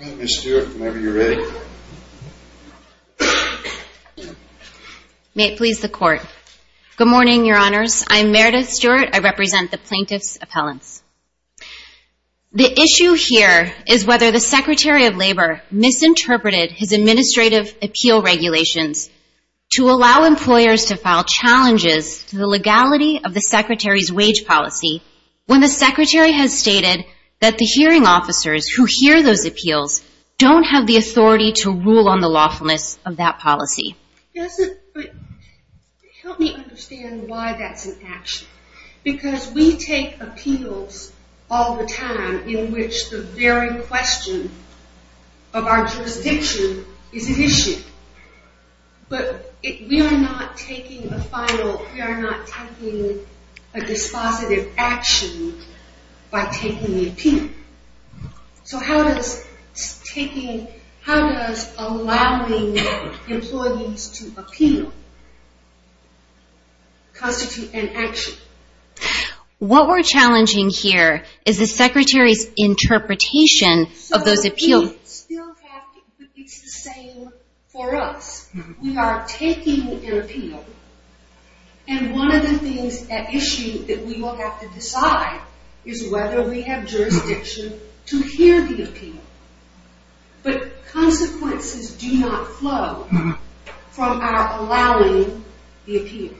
May it please the Court. Good morning, Your Honors. I'm Meredith Stewart. I represent the Plaintiff's Appellants. The issue here is whether the Secretary of Labor misinterpreted his administrative appeal regulations to allow employers to file challenges to the legality of the Secretary's wage policy when the Secretary has stated that the hearing officers who hear those appeals don't have the authority to rule on the lawfulness of that policy. Help me understand why that's an action. Because we take appeals all the time in which the very question of our jurisdiction is an issue. But we are not taking a final, we are not taking, how does allowing employees to appeal constitute an action? What we're challenging here is the Secretary's interpretation of those appeals. So we still have to, it's the same for us. We are taking an appeal and one of the things at issue that we will have to appeal. But consequences do not flow from our allowing the appeal.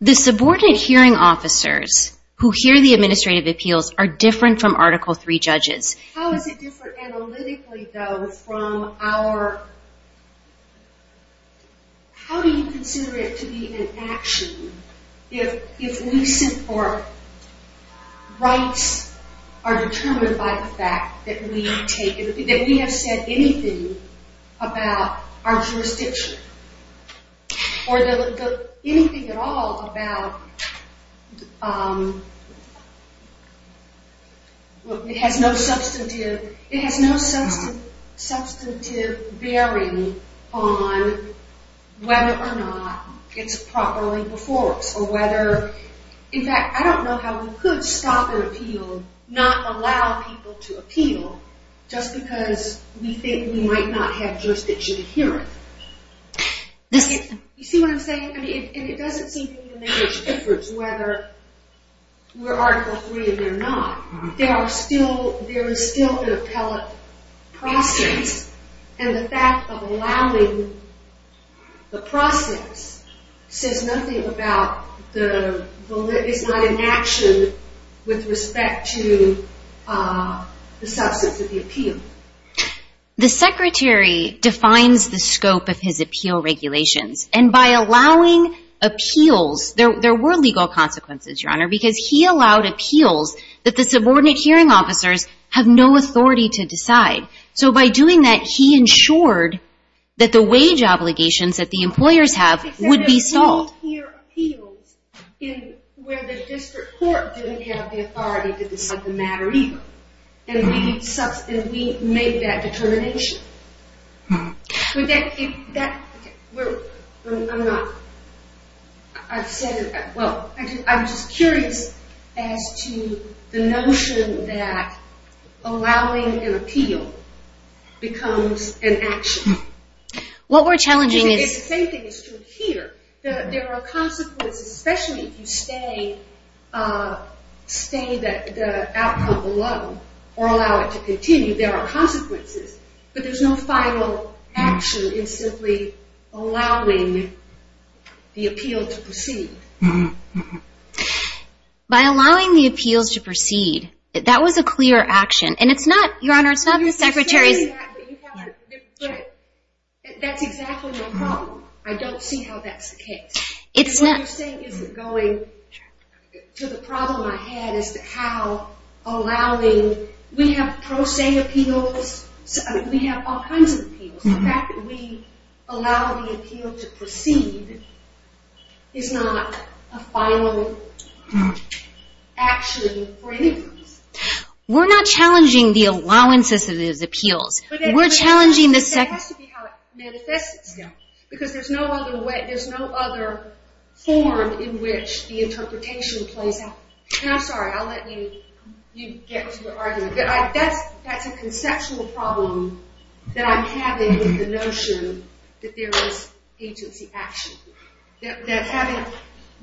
The subordinate hearing officers who hear the administrative appeals are different from Article III judges. How is it different analytically though from our, how do you consider it to be an action if we support rights are determined by the fact that we have said anything about our jurisdiction or anything at all about, it has no substantive bearing on whether or not it's properly before folks or whether, in fact I don't know how we could stop an appeal, not allow people to appeal just because we think we might not have jurisdiction to hear it. You see what I'm saying? And it doesn't seem to me to make much difference whether we're Article III and they're not. There are still, there is still an appellate process and the fact of it is not an action with respect to the substance of the appeal. The Secretary defines the scope of his appeal regulations and by allowing appeals, there were legal consequences Your Honor because he allowed appeals that the subordinate hearing officers have no authority to decide. So by doing that he ensured that the wage obligations that the employers have would be stalled. We hear appeals where the district court didn't have the authority to decide the matter either and we make that determination. I'm just curious as to the notion that allowing an appeal becomes an action. The same thing is true here. There are consequences, especially if you stay the outcome below or allow it to continue, there are consequences. But there's no final action in simply allowing the appeal to proceed. By allowing the appeals to proceed, that was a clear action and it's not, Your Honor, it's not the Secretary's That's exactly my problem. I don't see how that's the case. What you're saying isn't going to the problem I had as to how allowing, we have pro se appeals, we have all kinds of appeals. The fact that we allow the appeal to proceed is not a final action for any reason. We're not challenging the allowances of these appeals. We're challenging the But that has to be how it manifests itself. Because there's no other way, there's no other form in which the interpretation plays out. And I'm sorry, I'll let you get into the argument. That's a conceptual problem that I'm having with the notion that there is agency action. That having,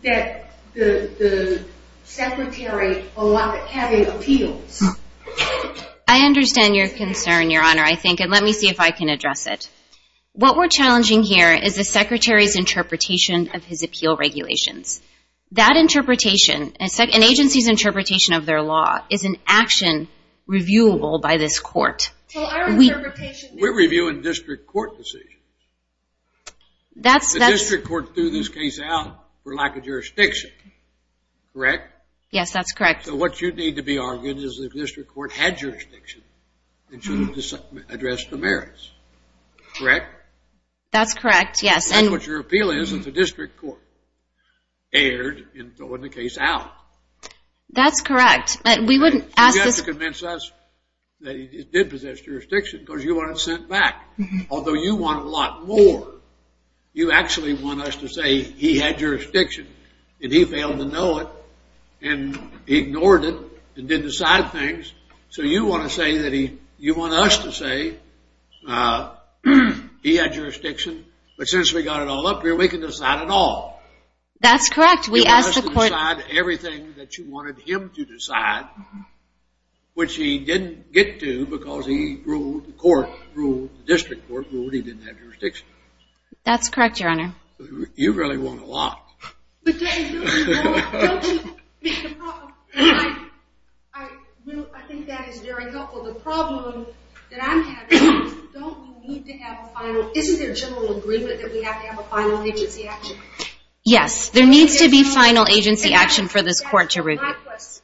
that the Secretary having appeals. I understand your concern, Your Honor, I think, and let me see if I can address it. What we're challenging here is the Secretary's interpretation of his appeal regulations. That interpretation, an agency's interpretation of their law, is an action reviewable by this court. We're reviewing district court decisions. The district court threw this case out for lack of jurisdiction, correct? Yes, that's correct. So what you need to be arguing is that the district court had jurisdiction and should have addressed the merits, correct? That's correct, yes. That's what your appeal is, that the district court erred in throwing the case out. That's correct. You have to convince us that it did possess jurisdiction because you want it sent back. Although you want a lot more, you actually want us to say he had jurisdiction and he failed to know it and ignored it and didn't decide things. So you want to say that he, you want us to say he had jurisdiction, but since we got it all up here, we can decide it all. That's correct. We asked the court. You want us to decide everything that you wanted him to decide, which he didn't get to because he ruled, the court ruled, the district court ruled he didn't have jurisdiction. That's correct, Your Honor. You really want a lot. I think that is very helpful. The problem that I'm having is don't we need to have a final, isn't there a general agreement that we have to have a final agency action? Yes, there needs to be final agency action for this court to review.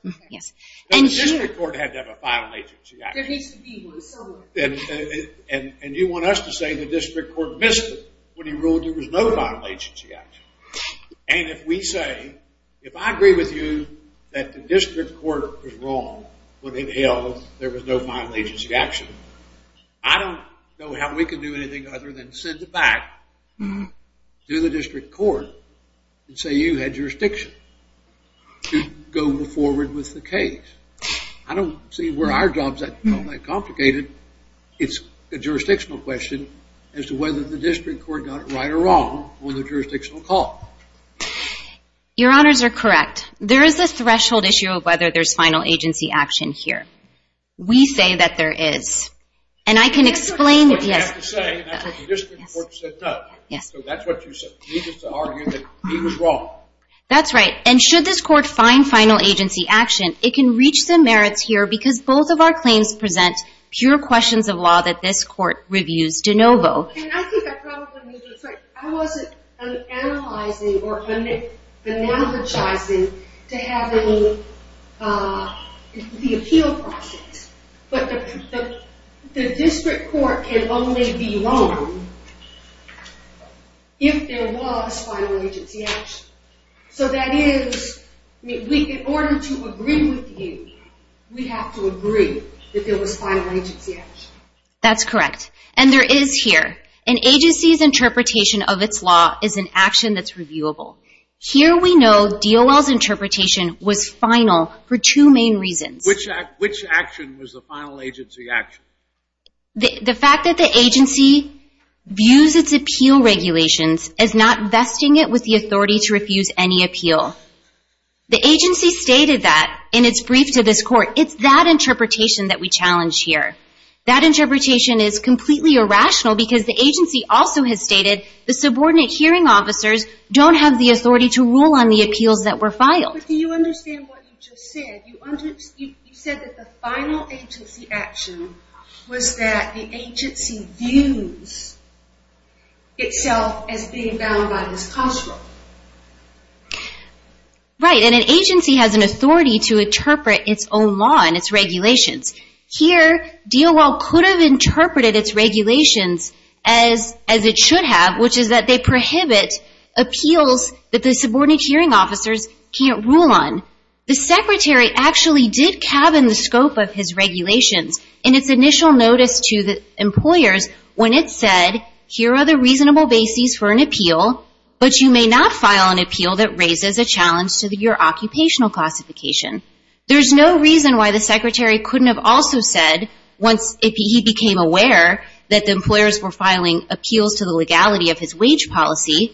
The district court had to have a final agency action. There needs to be one somewhere. And you want us to say the district court missed it when he ruled there was no final agency action. And if we say, if I agree with you that the district court was wrong when it held there was no final agency action, I don't know how we can do anything other than sit back, do the district court, and say you had jurisdiction to go forward with the case. I don't see where our job is that complicated. It's a jurisdictional question as to whether the district court got it right or wrong on the jurisdictional call. Your Honors are correct. There is a threshold issue of whether there is final agency action here. We say that there is. And I can explain. That's what you have to say. And the district court said no. So that's what you said. You just argued that he was wrong. That's right. And should this court find final agency action, it can reach the merits here because both of our claims present pure questions of law that this court reviews de novo. And I think I probably made a mistake. I wasn't analyzing or analogizing to have the appeal process. But the district court can only be wrong if there was final agency action. So that is, in order to agree with you, we have to agree that there was final agency action. That's correct. And there is here. An agency's interpretation of its law is an action that's reviewable. Here we know DOL's interpretation was final for two main reasons. Which action was the final agency action? The fact that the agency views its appeal regulations as not vesting it with the authority to refuse any appeal. The agency stated that in its brief to this court. It's that interpretation that we challenge here. That interpretation is completely irrational because the agency also has stated the subordinate hearing officers don't have the authority to rule on the appeals that were filed. But do you understand what you just said? You said that the final agency action was that the agency views itself as being bound by this construct. Right. And an agency has an authority to interpret its own law and its regulations. Here, DOL could have interpreted its regulations as it should have, which is that they prohibit appeals that the subordinate hearing officers can't rule on. The secretary actually did cabin the scope of his regulations in its initial notice to the employers when it said here are the reasonable bases for an appeal, but you may not file an appeal that raises a challenge to your occupational classification. There's no reason why the secretary couldn't have also said once he became aware that the employers were filing appeals to the legality of his wage policy,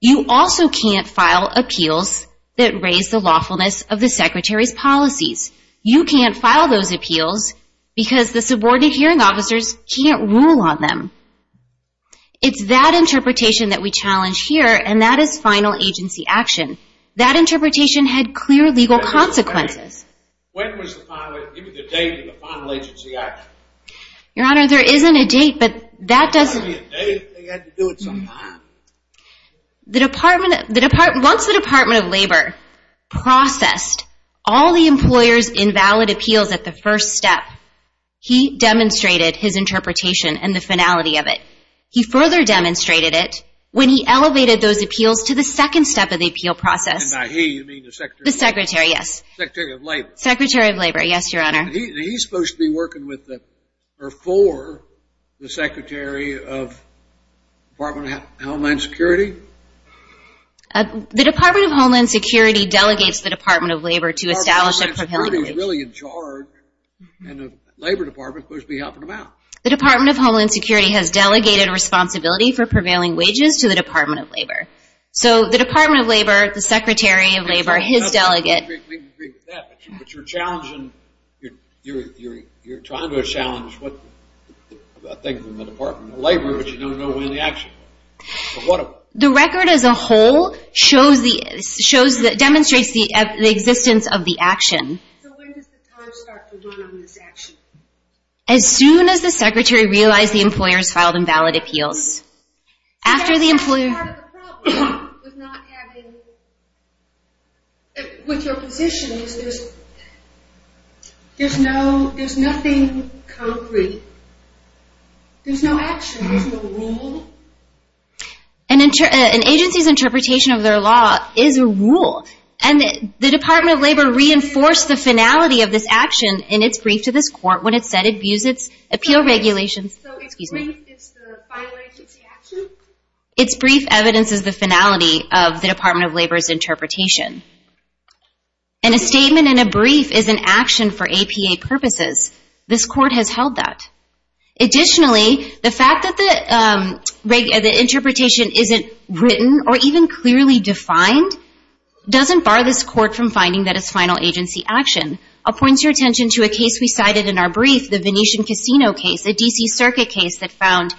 you also can't file appeals that raise the lawfulness of the secretary's policies. You can't file those appeals because the subordinate hearing officers can't rule on them. It's that interpretation that we challenge here, and that is final agency action. That interpretation had clear legal consequences. When was the final agency action? Your Honor, there isn't a date, but that doesn't. There had to be a date. They had to do it sometime. Once the Department of Labor processed all the employers' invalid appeals at the first step, he demonstrated his interpretation and the finality of it. He further demonstrated it when he elevated those appeals to the second step of the appeal process. And by he, you mean the secretary? The secretary, yes. Secretary of Labor. Secretary of Labor, yes, Your Honor. He's supposed to be working for the Secretary of Homeland Security? The Department of Homeland Security delegates the Department of Labor to establish a prevailing wage. Homeland Security is really in charge, and the Labor Department is supposed to be helping them out. The Department of Homeland Security has delegated responsibility for prevailing wages to the Department of Labor. So the Department of Labor, the Secretary of Labor, his delegate. We can agree with that, but you're challenging, you're trying to challenge a thing from the Department of Labor, but you don't know when the action will be. The record as a whole demonstrates the existence of the action. So when does the time start to run on this action? As soon as the secretary realized the employers filed invalid appeals. As part of the problem with not having, with your position is there's nothing concrete. There's no action. There's no rule. An agency's interpretation of their law is a rule, and the Department of Labor reinforced the finality of this action in its brief to this court when it said it views its appeal regulations. So its brief is the final agency action? Its brief evidence is the finality of the Department of Labor's interpretation. And a statement in a brief is an action for APA purposes. This court has held that. Additionally, the fact that the interpretation isn't written or even clearly defined doesn't bar this court from finding that it's final agency action. I'll point your attention to a case we cited in our brief, the Venetian Casino case. A D.C. Circuit case that found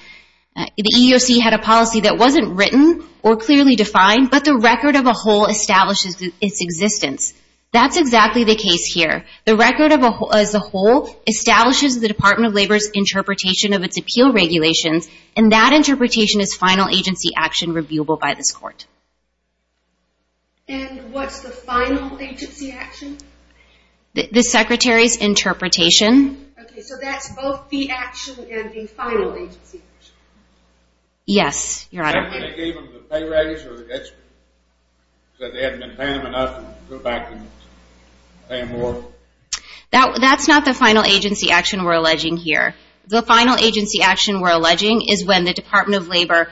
the EEOC had a policy that wasn't written or clearly defined, but the record of a whole establishes its existence. That's exactly the case here. The record as a whole establishes the Department of Labor's interpretation of its appeal regulations, and that interpretation is final agency action reviewable by this court. And what's the final agency action? The secretary's interpretation. Okay, so that's both the action and the final agency action. Yes, Your Honor. Did they give them the pay raise or the extra? So they hadn't been paying them enough to go back and pay them more? That's not the final agency action we're alleging here. The final agency action we're alleging is when the Department of Labor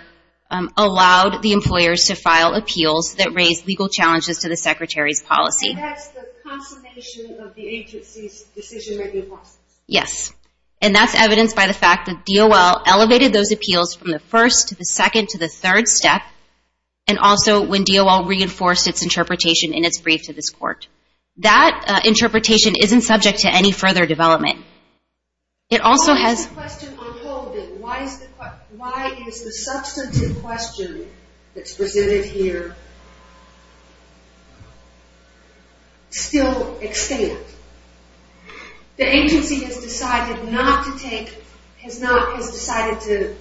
allowed the employers to file appeals that raised legal challenges to the secretary's policy. And that's the consummation of the agency's decision-making process? Yes, and that's evidenced by the fact that DOL elevated those appeals from the first to the second to the third step, and also when DOL reinforced its interpretation in its brief to this court. That interpretation isn't subject to any further development. Why is the question unfolded? Why is the substantive question that's presented here still extant? The agency has decided not to take, has decided to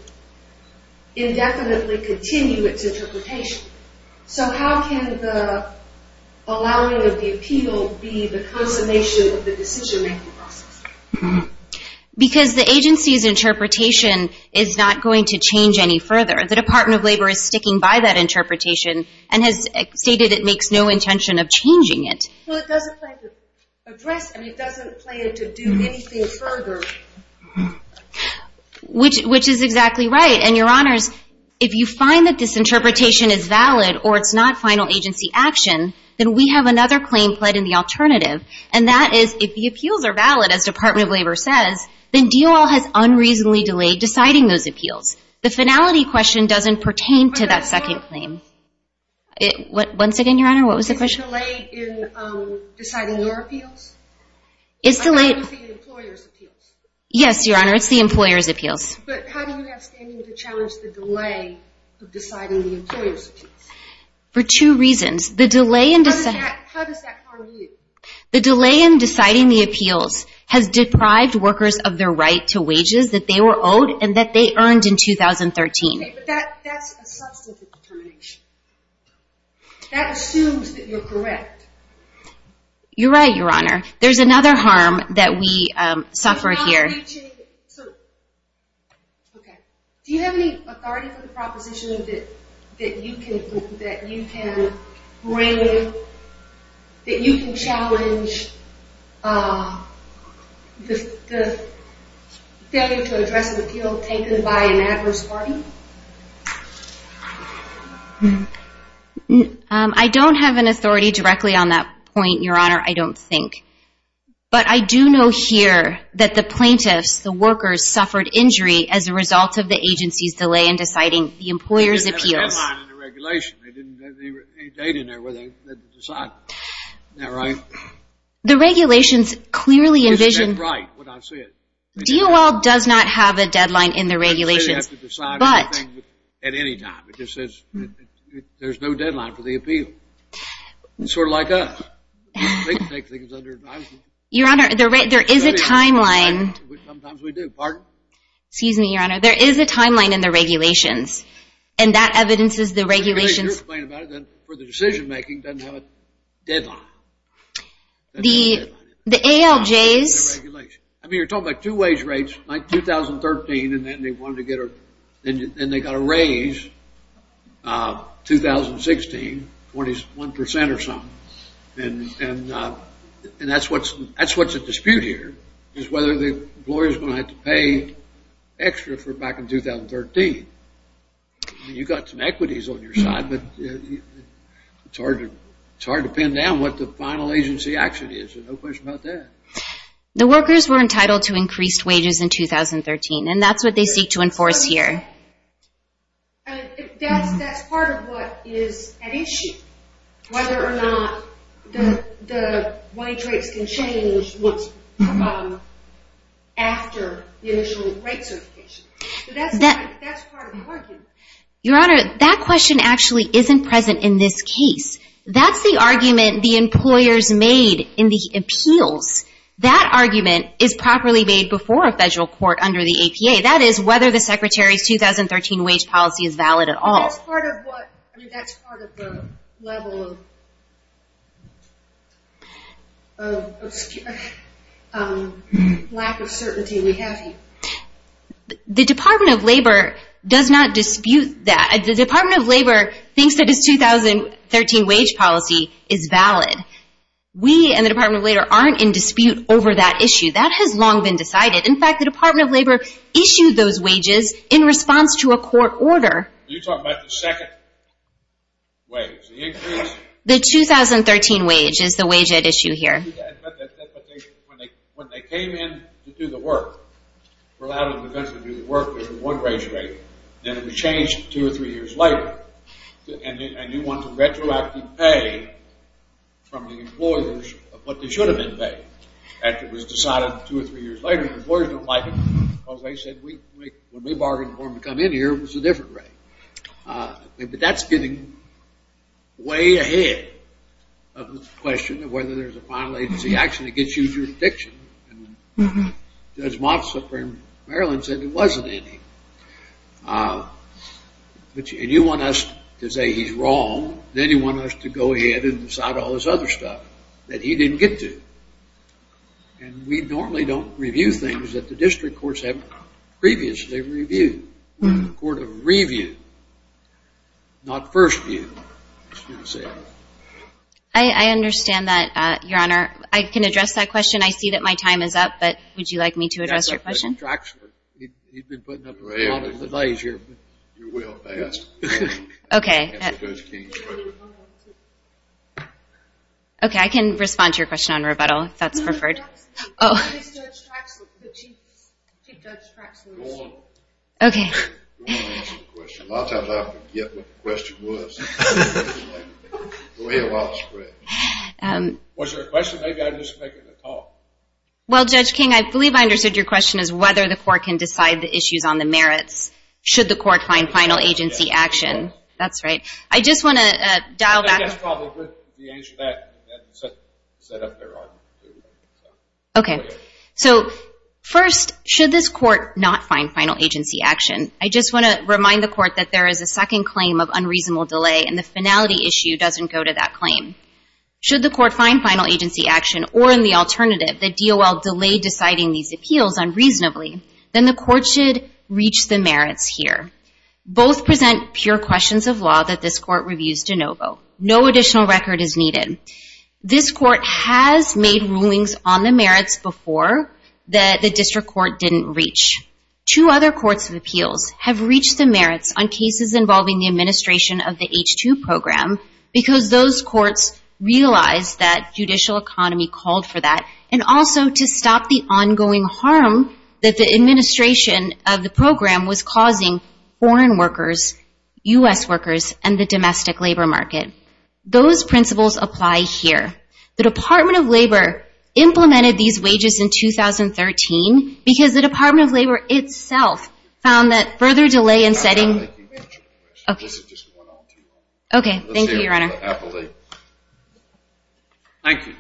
indefinitely continue its interpretation. So how can the allowing of the appeal be the consummation of the decision-making process? Because the agency's interpretation is not going to change any further. The Department of Labor is sticking by that interpretation and has stated it makes no intention of changing it. Well, it doesn't plan to address, and it doesn't plan to do anything further. Which is exactly right. And, Your Honors, if you find that this interpretation is valid or it's not final agency action, then we have another claim played in the alternative. And that is if the appeals are valid, as Department of Labor says, then DOL has unreasonably delayed deciding those appeals. The finality question doesn't pertain to that second claim. Once again, Your Honor, what was the question? Is it delayed in deciding your appeals? It's delayed. I'm talking about the employer's appeals. Yes, Your Honor, it's the employer's appeals. But how do you have standing to challenge the delay of deciding the employer's appeals? For two reasons. How does that harm you? The delay in deciding the appeals has deprived workers of their right to wages that they were owed and that they earned in 2013. Okay, but that's a substantive determination. That assumes that you're correct. You're right, Your Honor. There's another harm that we suffer here. Okay. Do you have any authority for the proposition that you can bring, that you can challenge the failure to address an appeal taken by an adverse party? I don't have an authority directly on that point, Your Honor, I don't think. But I do know here that the plaintiffs, the workers, suffered injury as a result of the agency's delay in deciding the employer's appeals. They didn't have a deadline in the regulation. They didn't have any data in there where they had to decide. Isn't that right? The regulations clearly envision. Isn't that right, what I said? DOL does not have a deadline in the regulations. I didn't say they have to decide anything at any time. It just says there's no deadline for the appeal. It's sort of like us. Your Honor, there is a timeline. Sometimes we do. Pardon? Excuse me, Your Honor. There is a timeline in the regulations. And that evidences the regulations. You're right. For the decision-making, it doesn't have a deadline. The ALJs. I mean, you're talking about two wage rates, like 2013, and then they got a raise, 2016, 21% or something. And that's what's at dispute here, is whether the employer's going to have to pay extra for back in 2013. I mean, you've got some equities on your side, but it's hard to pin down what the final agency action is. There's no question about that. The workers were entitled to increased wages in 2013, and that's what they seek to enforce here. That's part of what is at issue, whether or not the wage rates can change after the initial rate certification. That's part of the argument. Your Honor, that question actually isn't present in this case. That's the argument the employers made in the appeals. That argument is properly made before a federal court under the APA. That is whether the Secretary's 2013 wage policy is valid at all. That's part of the level of lack of certainty we have here. The Department of Labor does not dispute that. The Department of Labor thinks that its 2013 wage policy is valid. We and the Department of Labor aren't in dispute over that issue. That has long been decided. In fact, the Department of Labor issued those wages in response to a court order. Are you talking about the second wage, the increase? The 2013 wage is the wage at issue here. But when they came in to do the work, were allowed in the country to do the work, there was one wage rate, and it was changed two or three years later. And you want a retroactive pay from the employers of what they should have been paid. That was decided two or three years later. The employers don't like it because they said when we bargained for them to come in here, it was a different rate. But that's getting way ahead of the question of whether there's a final agency action that gets you jurisdiction. As Moffs up in Maryland said, there wasn't any. And you want us to say he's wrong, then you want us to go ahead and decide all this other stuff that he didn't get to. And we normally don't review things that the district courts haven't previously reviewed. We're the court of review, not first view. I understand that, Your Honor. I can address that question. I see that my time is up, but would you like me to address your question? You've been putting up a lot of delays here. You will pass. Okay. Okay, I can respond to your question on rebuttal if that's preferred. Okay. You want to answer the question. A lot of times I forget what the question was. Was there a question? Maybe I'm just making a talk. Well, Judge King, I believe I understood your question as whether the court can decide the issues on the merits. Should the court find final agency action? That's right. I just want to dial back. Okay. So first, should this court not find final agency action? I just want to remind the court that there is a second claim of unreasonable delay, and the finality issue doesn't go to that claim. Should the court find final agency action, or in the alternative, the DOL delay deciding these appeals unreasonably, then the court should reach the merits here. Both present pure questions of law that this court reviews de novo. No additional record is needed. This court has made rulings on the merits before that the district court didn't reach. Two other courts of appeals have reached the merits on cases involving the administration of the H-2 program because those courts realized that judicial economy called for that, and also to stop the ongoing harm that the administration of the program was causing foreign workers, U.S. workers, and the domestic labor market. Those principles apply here. The Department of Labor implemented these wages in 2013 because the Department of Labor itself found that further delay in setting. Okay. Thank you, Your Honor. Thank you.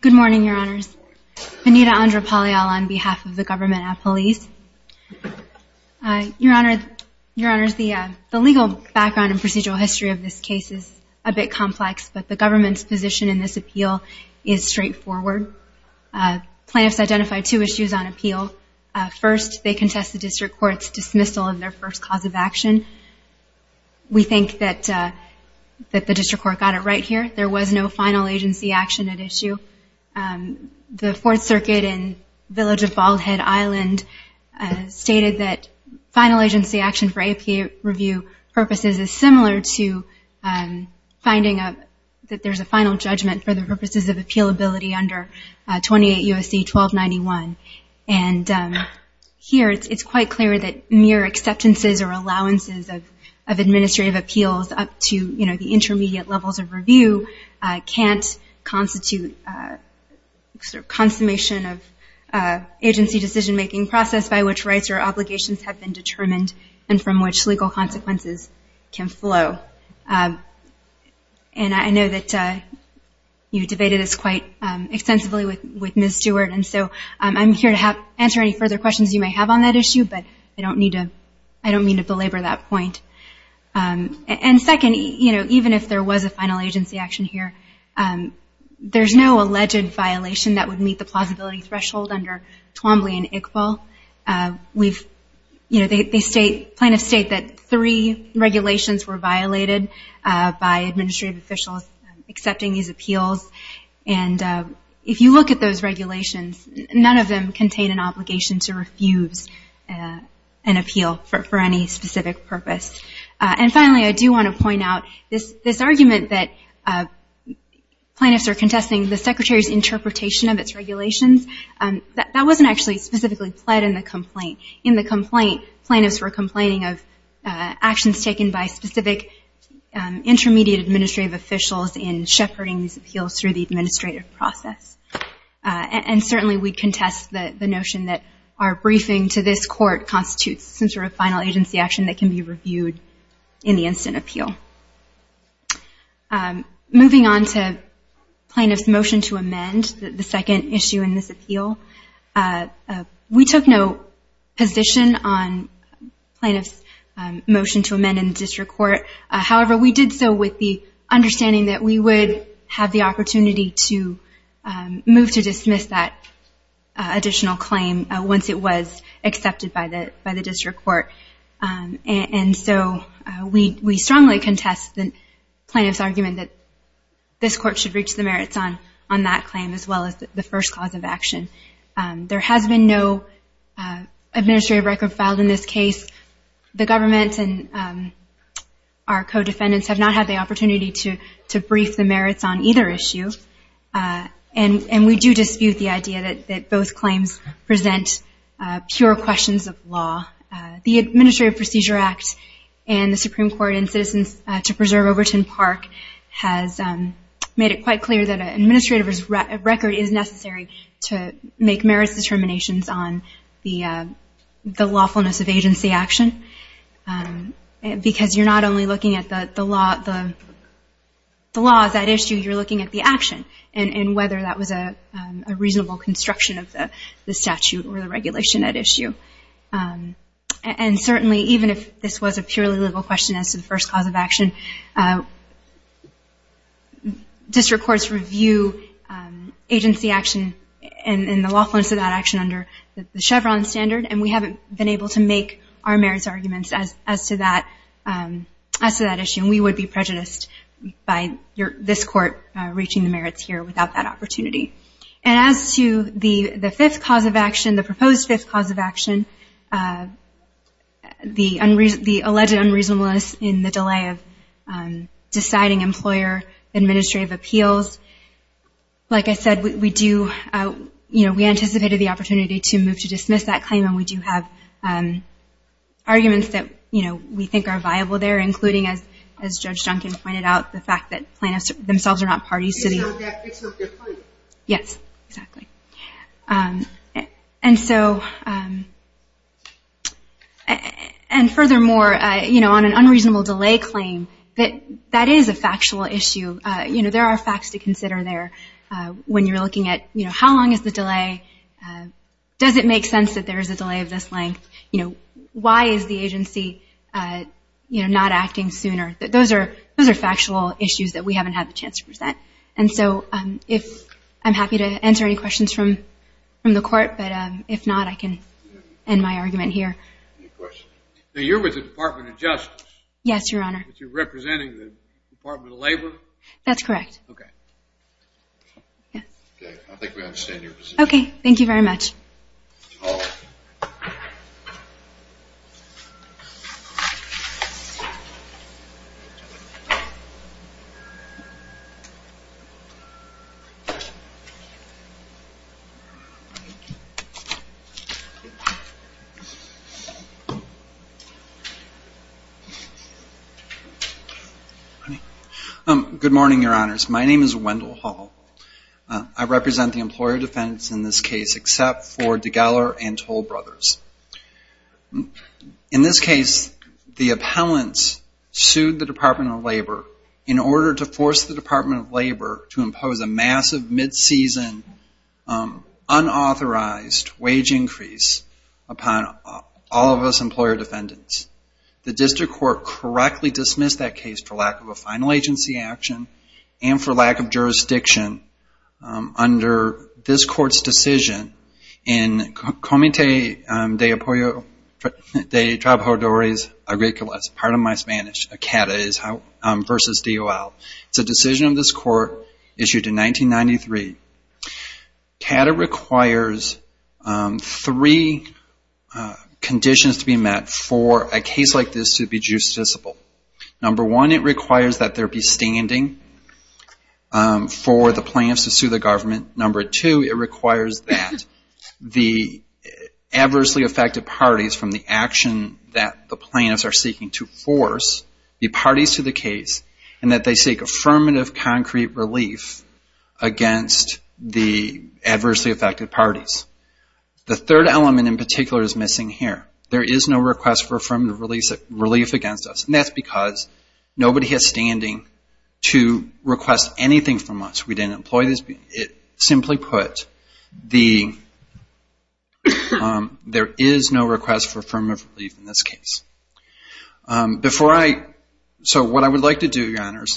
Good morning, Your Honors. Benita Andra-Palial on behalf of the government at police. Your Honors, the legal background and procedural history of this case is a bit complex, but the government's position in this appeal is straightforward. Plaintiffs identified two issues on appeal. First, they contest the district court's dismissal of their first cause of action. We think that the district court got it right here. There was no final agency action at issue. The Fourth Circuit in Village of Bald Head Island stated that final agency action for APA review purposes is similar to finding that there's a final judgment for the purposes of appealability under 28 U.S.C. 1291. And here it's quite clear that mere acceptances or allowances of administrative appeals up to, you know, the intermediate levels of review can't constitute sort of consummation of agency decision-making process by which rights or obligations have been determined and from which legal consequences can flow. And I know that you debated this quite extensively with Ms. Stewart, and so I'm here to answer any further questions you may have on that issue, but I don't mean to belabor that point. And second, you know, even if there was a final agency action here, there's no alleged violation that would meet the plausibility threshold under Twombly and Iqbal. We've, you know, they state, plaintiffs state that three regulations were violated by administrative officials accepting these appeals, and if you look at those regulations, none of them contain an obligation to refuse an appeal for any specific purpose. And finally, I do want to point out this argument that plaintiffs are contesting the Secretary's interpretation of its regulations, that wasn't actually specifically pled in the complaint. In the complaint, plaintiffs were complaining of actions taken by specific intermediate administrative officials in shepherding these appeals through the administrative process. And certainly we contest the notion that our briefing to this court constitutes some sort of final agency action that can be reviewed in the instant appeal. Moving on to plaintiff's motion to amend, the second issue in this appeal, we took no position on plaintiff's motion to amend in the district court. However, we did so with the understanding that we would have the opportunity to move to dismiss that additional claim once it was accepted by the district court. And so we strongly contest the plaintiff's argument that this court should reach the merits on that claim as well as the first cause of action. There has been no administrative record filed in this case. The government and our co-defendants have not had the opportunity to brief the merits on either issue. And we do dispute the idea that both claims present pure questions of law. The Administrative Procedure Act and the Supreme Court in Citizens to Preserve Overton Park has made it quite clear that an administrative record is necessary to make merits determinations on the lawfulness of agency action. Because you're not only looking at the laws at issue, you're looking at the action, and whether that was a reasonable construction of the statute or the regulation at issue. And certainly even if this was a purely legal question as to the first cause of action, district courts review agency action and the lawfulness of that action under the Chevron standard, and we haven't been able to make our merits arguments as to that issue. And we would be prejudiced by this court reaching the merits here without that opportunity. And as to the fifth cause of action, the proposed fifth cause of action, the alleged unreasonableness in the delay of deciding employer administrative appeals, like I said, we anticipated the opportunity to move to dismiss that claim, and we do have arguments that we think are viable there, including, as Judge Duncan pointed out, the fact that plaintiffs themselves are not parties to the... Yes, exactly. And furthermore, on an unreasonable delay claim, that is a factual issue. There are facts to consider there when you're looking at how long is the delay, does it make sense that there is a delay of this length, why is the agency not acting sooner. Those are factual issues that we haven't had the chance to present. And so I'm happy to answer any questions from the court, but if not, I can end my argument here. Now, you're with the Department of Justice? Yes, Your Honor. But you're representing the Department of Labor? That's correct. Okay, thank you very much. Good morning, Your Honors. My name is Wendell Hall. I represent the employer defendants in this case, except for DeGeller and Toll Brothers. In this case, the appellants sued the Department of Labor in order to force the Department of Labor to impose a massive mid-season, unauthorized wage increase upon all of us employer defendants. The district court correctly dismissed that case for lack of a final agency action, and for lack of jurisdiction under this court's decision in Comité de Trabajadores Agricoles, pardon my Spanish, CADA versus DOL. It's a decision of this court issued in 1993. CADA requires three conditions to be met for a case like this to be justiciable. Number one, it requires that there be standing for the plaintiffs to sue the government. Number two, it requires that the adversely affected parties from the action that the plaintiffs are seeking to force, the parties to the case, and that they seek affirmative concrete relief against the adversely affected parties. The third element in particular is missing here. There is no request for affirmative relief against us. That's because nobody has standing to request anything from us. Simply put, there is no request for affirmative relief in this case. What I would like to do, Your Honors,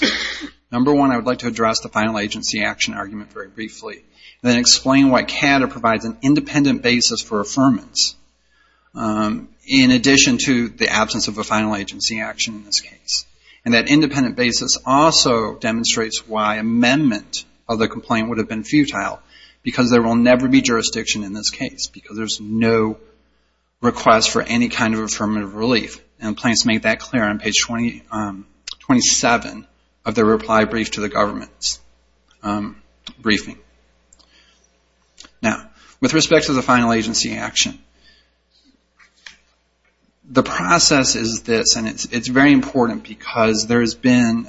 number one, I would like to address the final agency action argument very briefly. Then explain why CADA provides an independent basis for affirmance in addition to the absence of a final agency action in this case. That independent basis also demonstrates why amendment of the complaint would have been futile. Because there will never be jurisdiction in this case. Because there is no request for any kind of affirmative relief. The plaintiffs make that clear on page 27 of their reply brief to the government briefing. With respect to the final agency action, the process is this. It's very important. Because there has been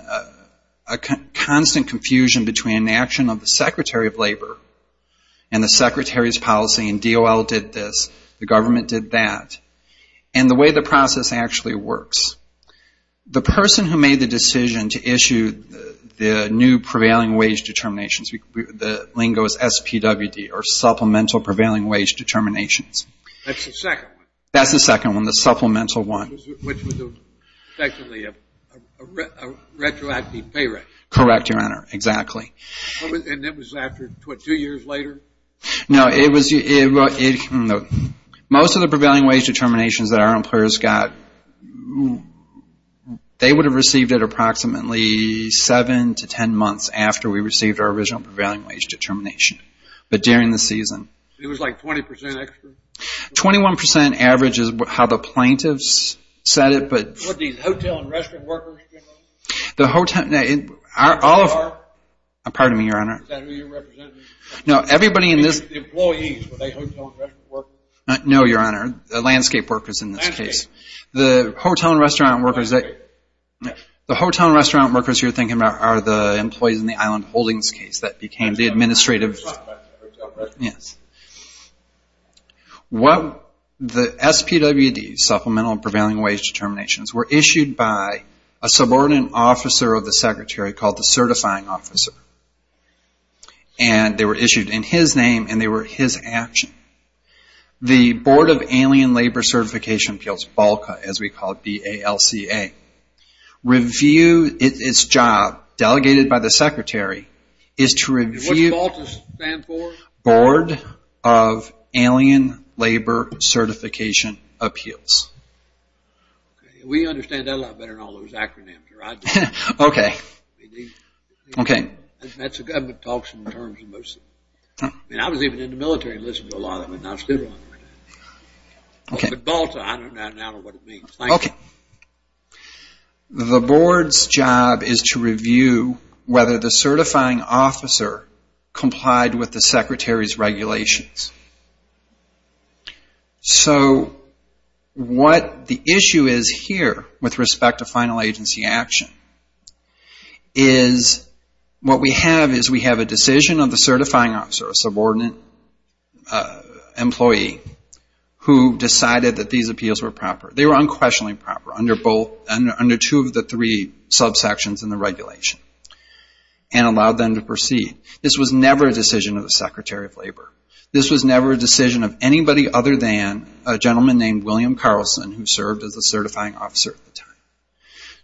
a constant confusion between the action of the Secretary of Labor and the Secretary's policy, and DOL did this, the government did that, and the way the process actually works. The person who made the decision to issue the new prevailing wage determinations, the lingo is SPWD, or Supplemental Prevailing Wage Determinations. That's the second one? That's the second one, the supplemental one. Which was effectively a retroactive pay raise. Correct, Your Honor, exactly. And it was after two years later? No, most of the prevailing wage determinations that our employers got, they would have received it approximately seven to ten months after we received our original prevailing wage determination. But during the season. It was like 20% extra? 21% average is how the plaintiffs said it. Were these hotel and restaurant workers? Pardon me, Your Honor. Were they hotel and restaurant workers? No, Your Honor, landscape workers in this case. The hotel and restaurant workers you're thinking about are the employees in the Island Holdings case. The SPWD, Supplemental Prevailing Wage Determinations, were issued by a subordinate officer of the secretary called the certifying officer. And they were issued in his name and they were his action. The Board of Alien Labor Certification Appeals, BALCA, as we call it, B-A-L-C-A, reviewed its job, delegated by the secretary, is to review... What does BALCA stand for? Board of Alien Labor Certification Appeals. We understand that a lot better than all those acronyms. I was even in the military and listened to a lot of them. But BALCA, I don't know what it means. The board's job is to have the certifying officer complied with the secretary's regulations. So what the issue is here with respect to final agency action is what we have is we have a decision of the certifying officer, a subordinate employee, who decided that these appeals were proper. They were unquestionably proper under two of the three subsections in the regulation. And allowed them to proceed. This was never a decision of the secretary of labor. This was never a decision of anybody other than a gentleman named William Carlson who served as the certifying officer at the time.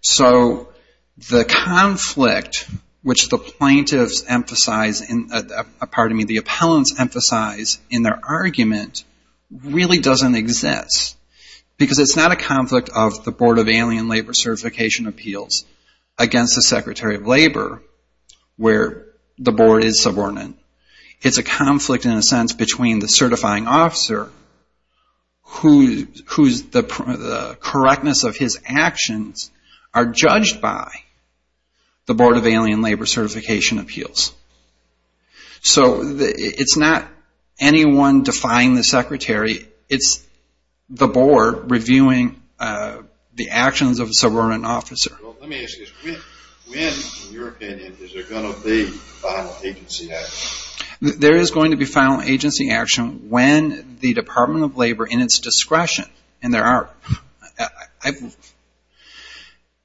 So the conflict which the plaintiffs emphasize, pardon me, the appellants emphasize in their argument really doesn't exist. Because it's not a conflict of the Board of Alien Labor Certification Appeals against the secretary of labor where the board is subordinate. It's a conflict in a sense between the certifying officer whose correctness of his actions are judged by the Board of Alien Labor Certification Appeals. So it's not anyone defying the secretary. It's the board reviewing the actions of a subordinate officer. When in your opinion is there going to be final agency action? There is going to be final agency action when the Department of Labor in its discretion and there are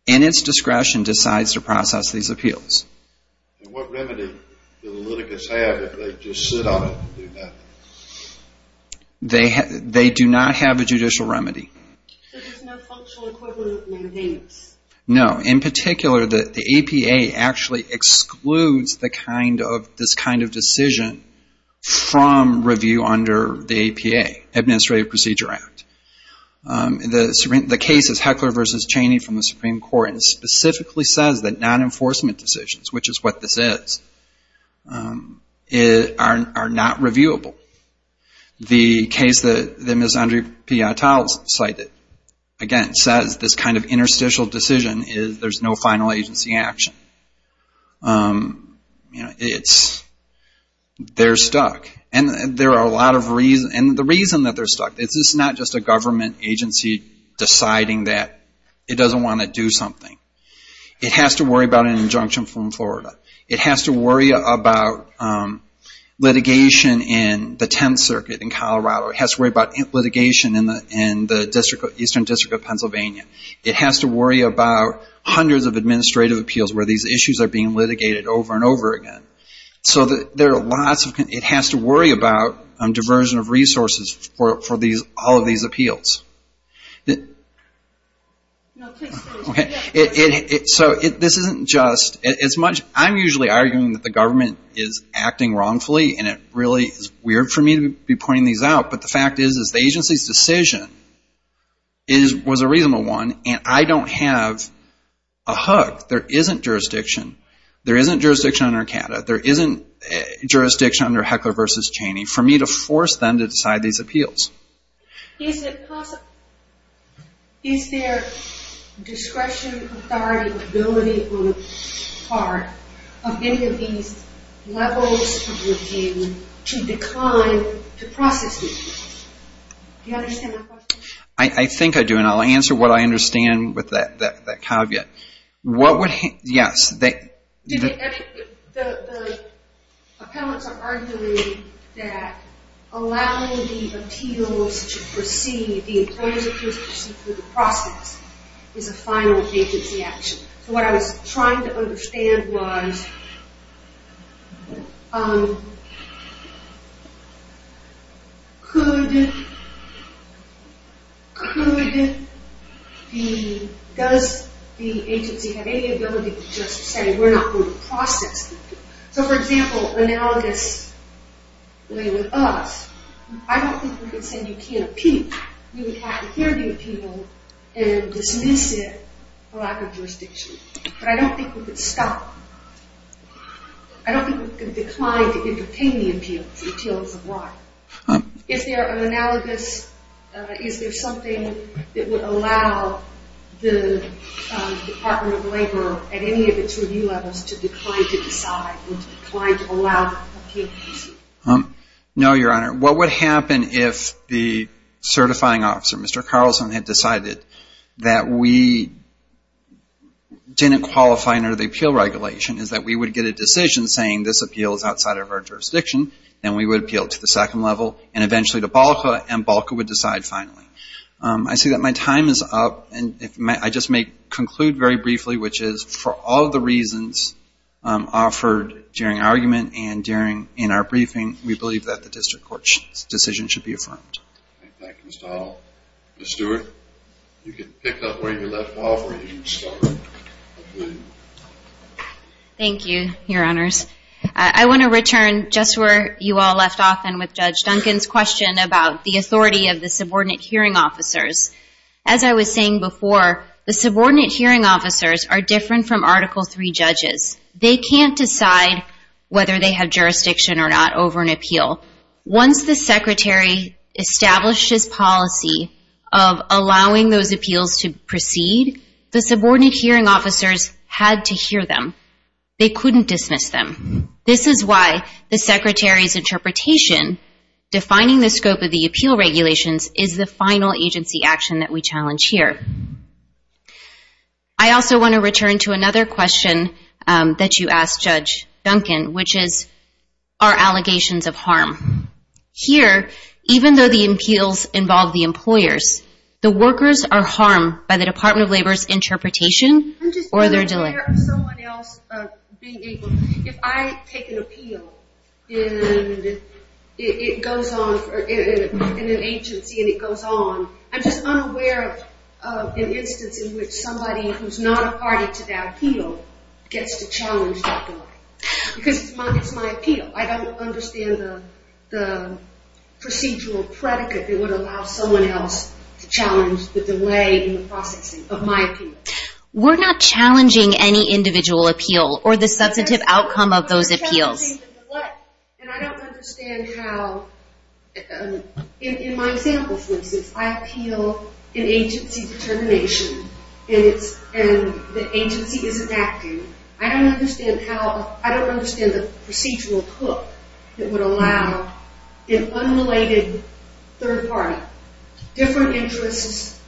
in its discretion decides to process these appeals. And what remedy do the litigants have if they just sit on it and do nothing? They do not have a judicial remedy. So there's no functional equivalent maintenance? No. In particular, the APA actually excludes this kind of decision from review under the APA, Administrative Procedure Act. The case is Heckler v. Cheney from the Supreme Court and specifically says that non-enforcement decisions, which is what this is, are not reviewable. The case that Ms. Andrea Piatel cited, again, says this kind of interstitial decision is there's no final agency action. They're stuck. And the reason that they're stuck is it's not just a government agency deciding that it doesn't want to do something. It has to worry about an injunction from Florida. It has to worry about litigation in the Tenth Circuit in Colorado. It has to worry about litigation in the Eastern District of Pennsylvania. It has to worry about hundreds of administrative appeals where these issues are being litigated over and over again. So it has to worry about diversion of resources for all of these appeals. So this isn't just I'm usually arguing that the government is acting wrongfully and it really is weird for me to be pointing these out, but the fact is the agency's decision was a reasonable one and I don't have a hook. There isn't jurisdiction. There isn't jurisdiction under ACATA. There isn't jurisdiction under Heckler v. Cheney for me to force them to decide these appeals. Is it possible is there discretion, authority, or ability on the part of any of these levels of review to decline to process these appeals? I think I do and I'll answer what I understand with that caveat. Yes. The appellants are arguing that allowing the appeals to proceed, the employer's appeals to proceed through the process is a final agency action. So what I was trying to understand was could could does the agency have any ability to just say we're not going to process them? So for example, analogous way with us, I don't think we could say you can't appeal. You would have to hear the appeal and dismiss it for lack of jurisdiction. But I don't think we could stop I don't think we could decline to entertain the appeals until it's arrived. Is there an analogous is there something that would allow the Department of Labor at any of its review levels to decline to decide decline to allow the appeals to proceed? No, Your Honor. What would happen if the certifying officer, Mr. Carlson, had decided that we didn't qualify under the appeal regulation is that we would get a decision saying this appeal is outside of our jurisdiction and we would appeal to the second level and eventually to BALCA and BALCA would decide finally. I see that my time is up and I just may conclude very briefly which is for all the reasons offered during argument and in our briefing we believe that the district court's decision should be affirmed. Ms. Stewart, you can pick up where you left off or you can start. Thank you, Your Honors. I want to return just where you all left off and with Judge Duncan's question about the authority of the subordinate hearing officers. As I was saying before, the subordinate hearing officers are different from Article III judges. They can't decide whether they have jurisdiction or not over an appeal. Once the Secretary established his policy of allowing those appeals to proceed, the subordinate hearing officers had to hear them. They couldn't dismiss them. This is why the Secretary's interpretation defining the scope of the appeal regulations is the final agency action that we challenge here. I also want to return to another question that you asked Judge Duncan, which is are allegations of harm? Here, even though the appeals involve the employers, the workers are harmed by the Department of Labor's interpretation or their delay. If I take an appeal and it goes on in an agency and it goes on, I'm just unaware of an instance in which somebody who's not a party to that appeal gets to challenge that delay because it's my appeal. I don't understand the procedural predicate that would allow someone else to challenge the delay in the processing of my appeal. We're not challenging any individual appeal or the substantive outcome of those appeals. I don't understand how in my example, for instance, I appeal an agency determination and the agency isn't acting. I don't understand how, I don't understand the procedural hook that would allow an unrelated third party, different interests,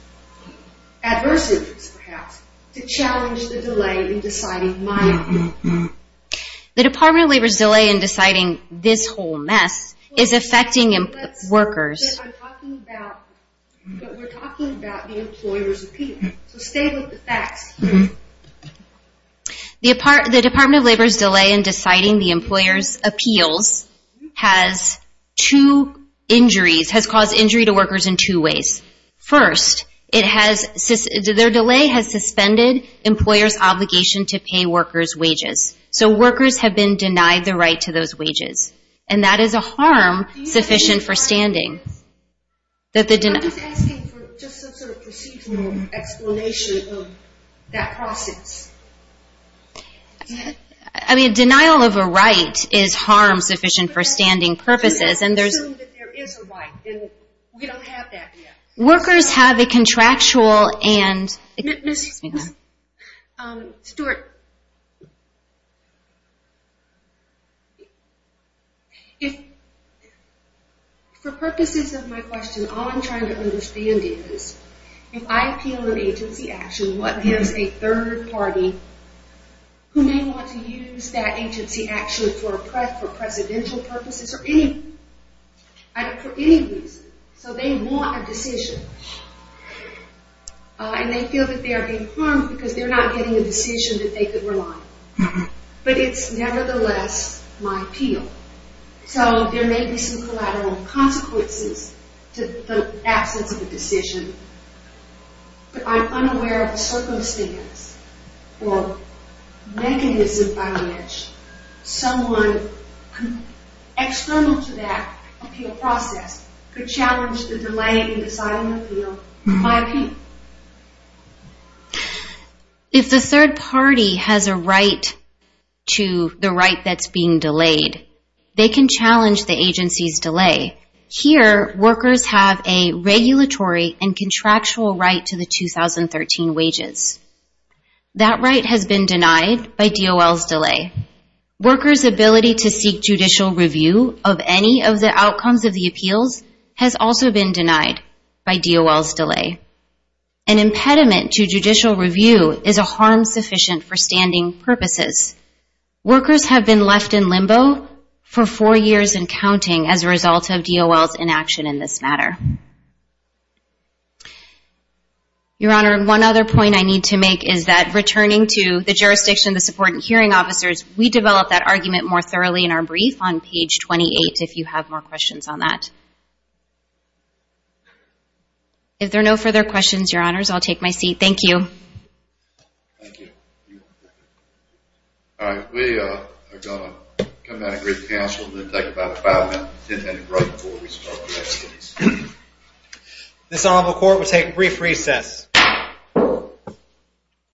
adverse interests perhaps, to challenge the delay in deciding my appeal. The Department of Labor's delay in deciding this whole mess is affecting workers. But we're talking about the employer's appeal. So stay with the facts. The Department of Labor's delay in deciding the employer's appeals has two injuries, has caused injury to workers in two ways. First, their delay has suspended employers' obligation to pay workers' wages. So workers have been denied the right to those wages. And that is a harm sufficient for standing. Just some sort of procedural explanation of that process. Denial of a right is harm sufficient for standing purposes. Workers have a contractual and... Stuart? For purposes of my question, all I'm trying to understand is, if I appeal an agency action, what gives a third party who may want to use that agency action for presidential purposes or any... for any reason. So they want a decision. And they feel that they are being harmed because they're not getting a decision that they could rely on. But it's nevertheless my appeal. So there may be some collateral consequences to the absence of a decision. But I'm unaware of a circumstance or mechanism by which someone external to that appeal process could challenge the delay in deciding an appeal. If the third party has a right to the right that's being delayed, they can challenge the agency's delay. Here, workers have a regulatory and contractual right to the 2013 wages. That right has been denied by DOL's delay. Workers' ability to seek judicial review of any of the outcomes of the appeals has also been denied by DOL's delay. An impediment to judicial review is a harm sufficient for standing purposes. Workers have been left in limbo for four years and counting as a result of DOL's inaction in this matter. Your Honor, one other point I need to make is that returning to the jurisdiction of the support and hearing officers, we develop that argument more thoroughly in our brief on page 28 if you have more questions on that. If there are no further questions, Your Honors, I'll take my seat. Thank you. All right. We are going to come out and greet the counsel and then take about five minutes. This honorable court will take a brief recess.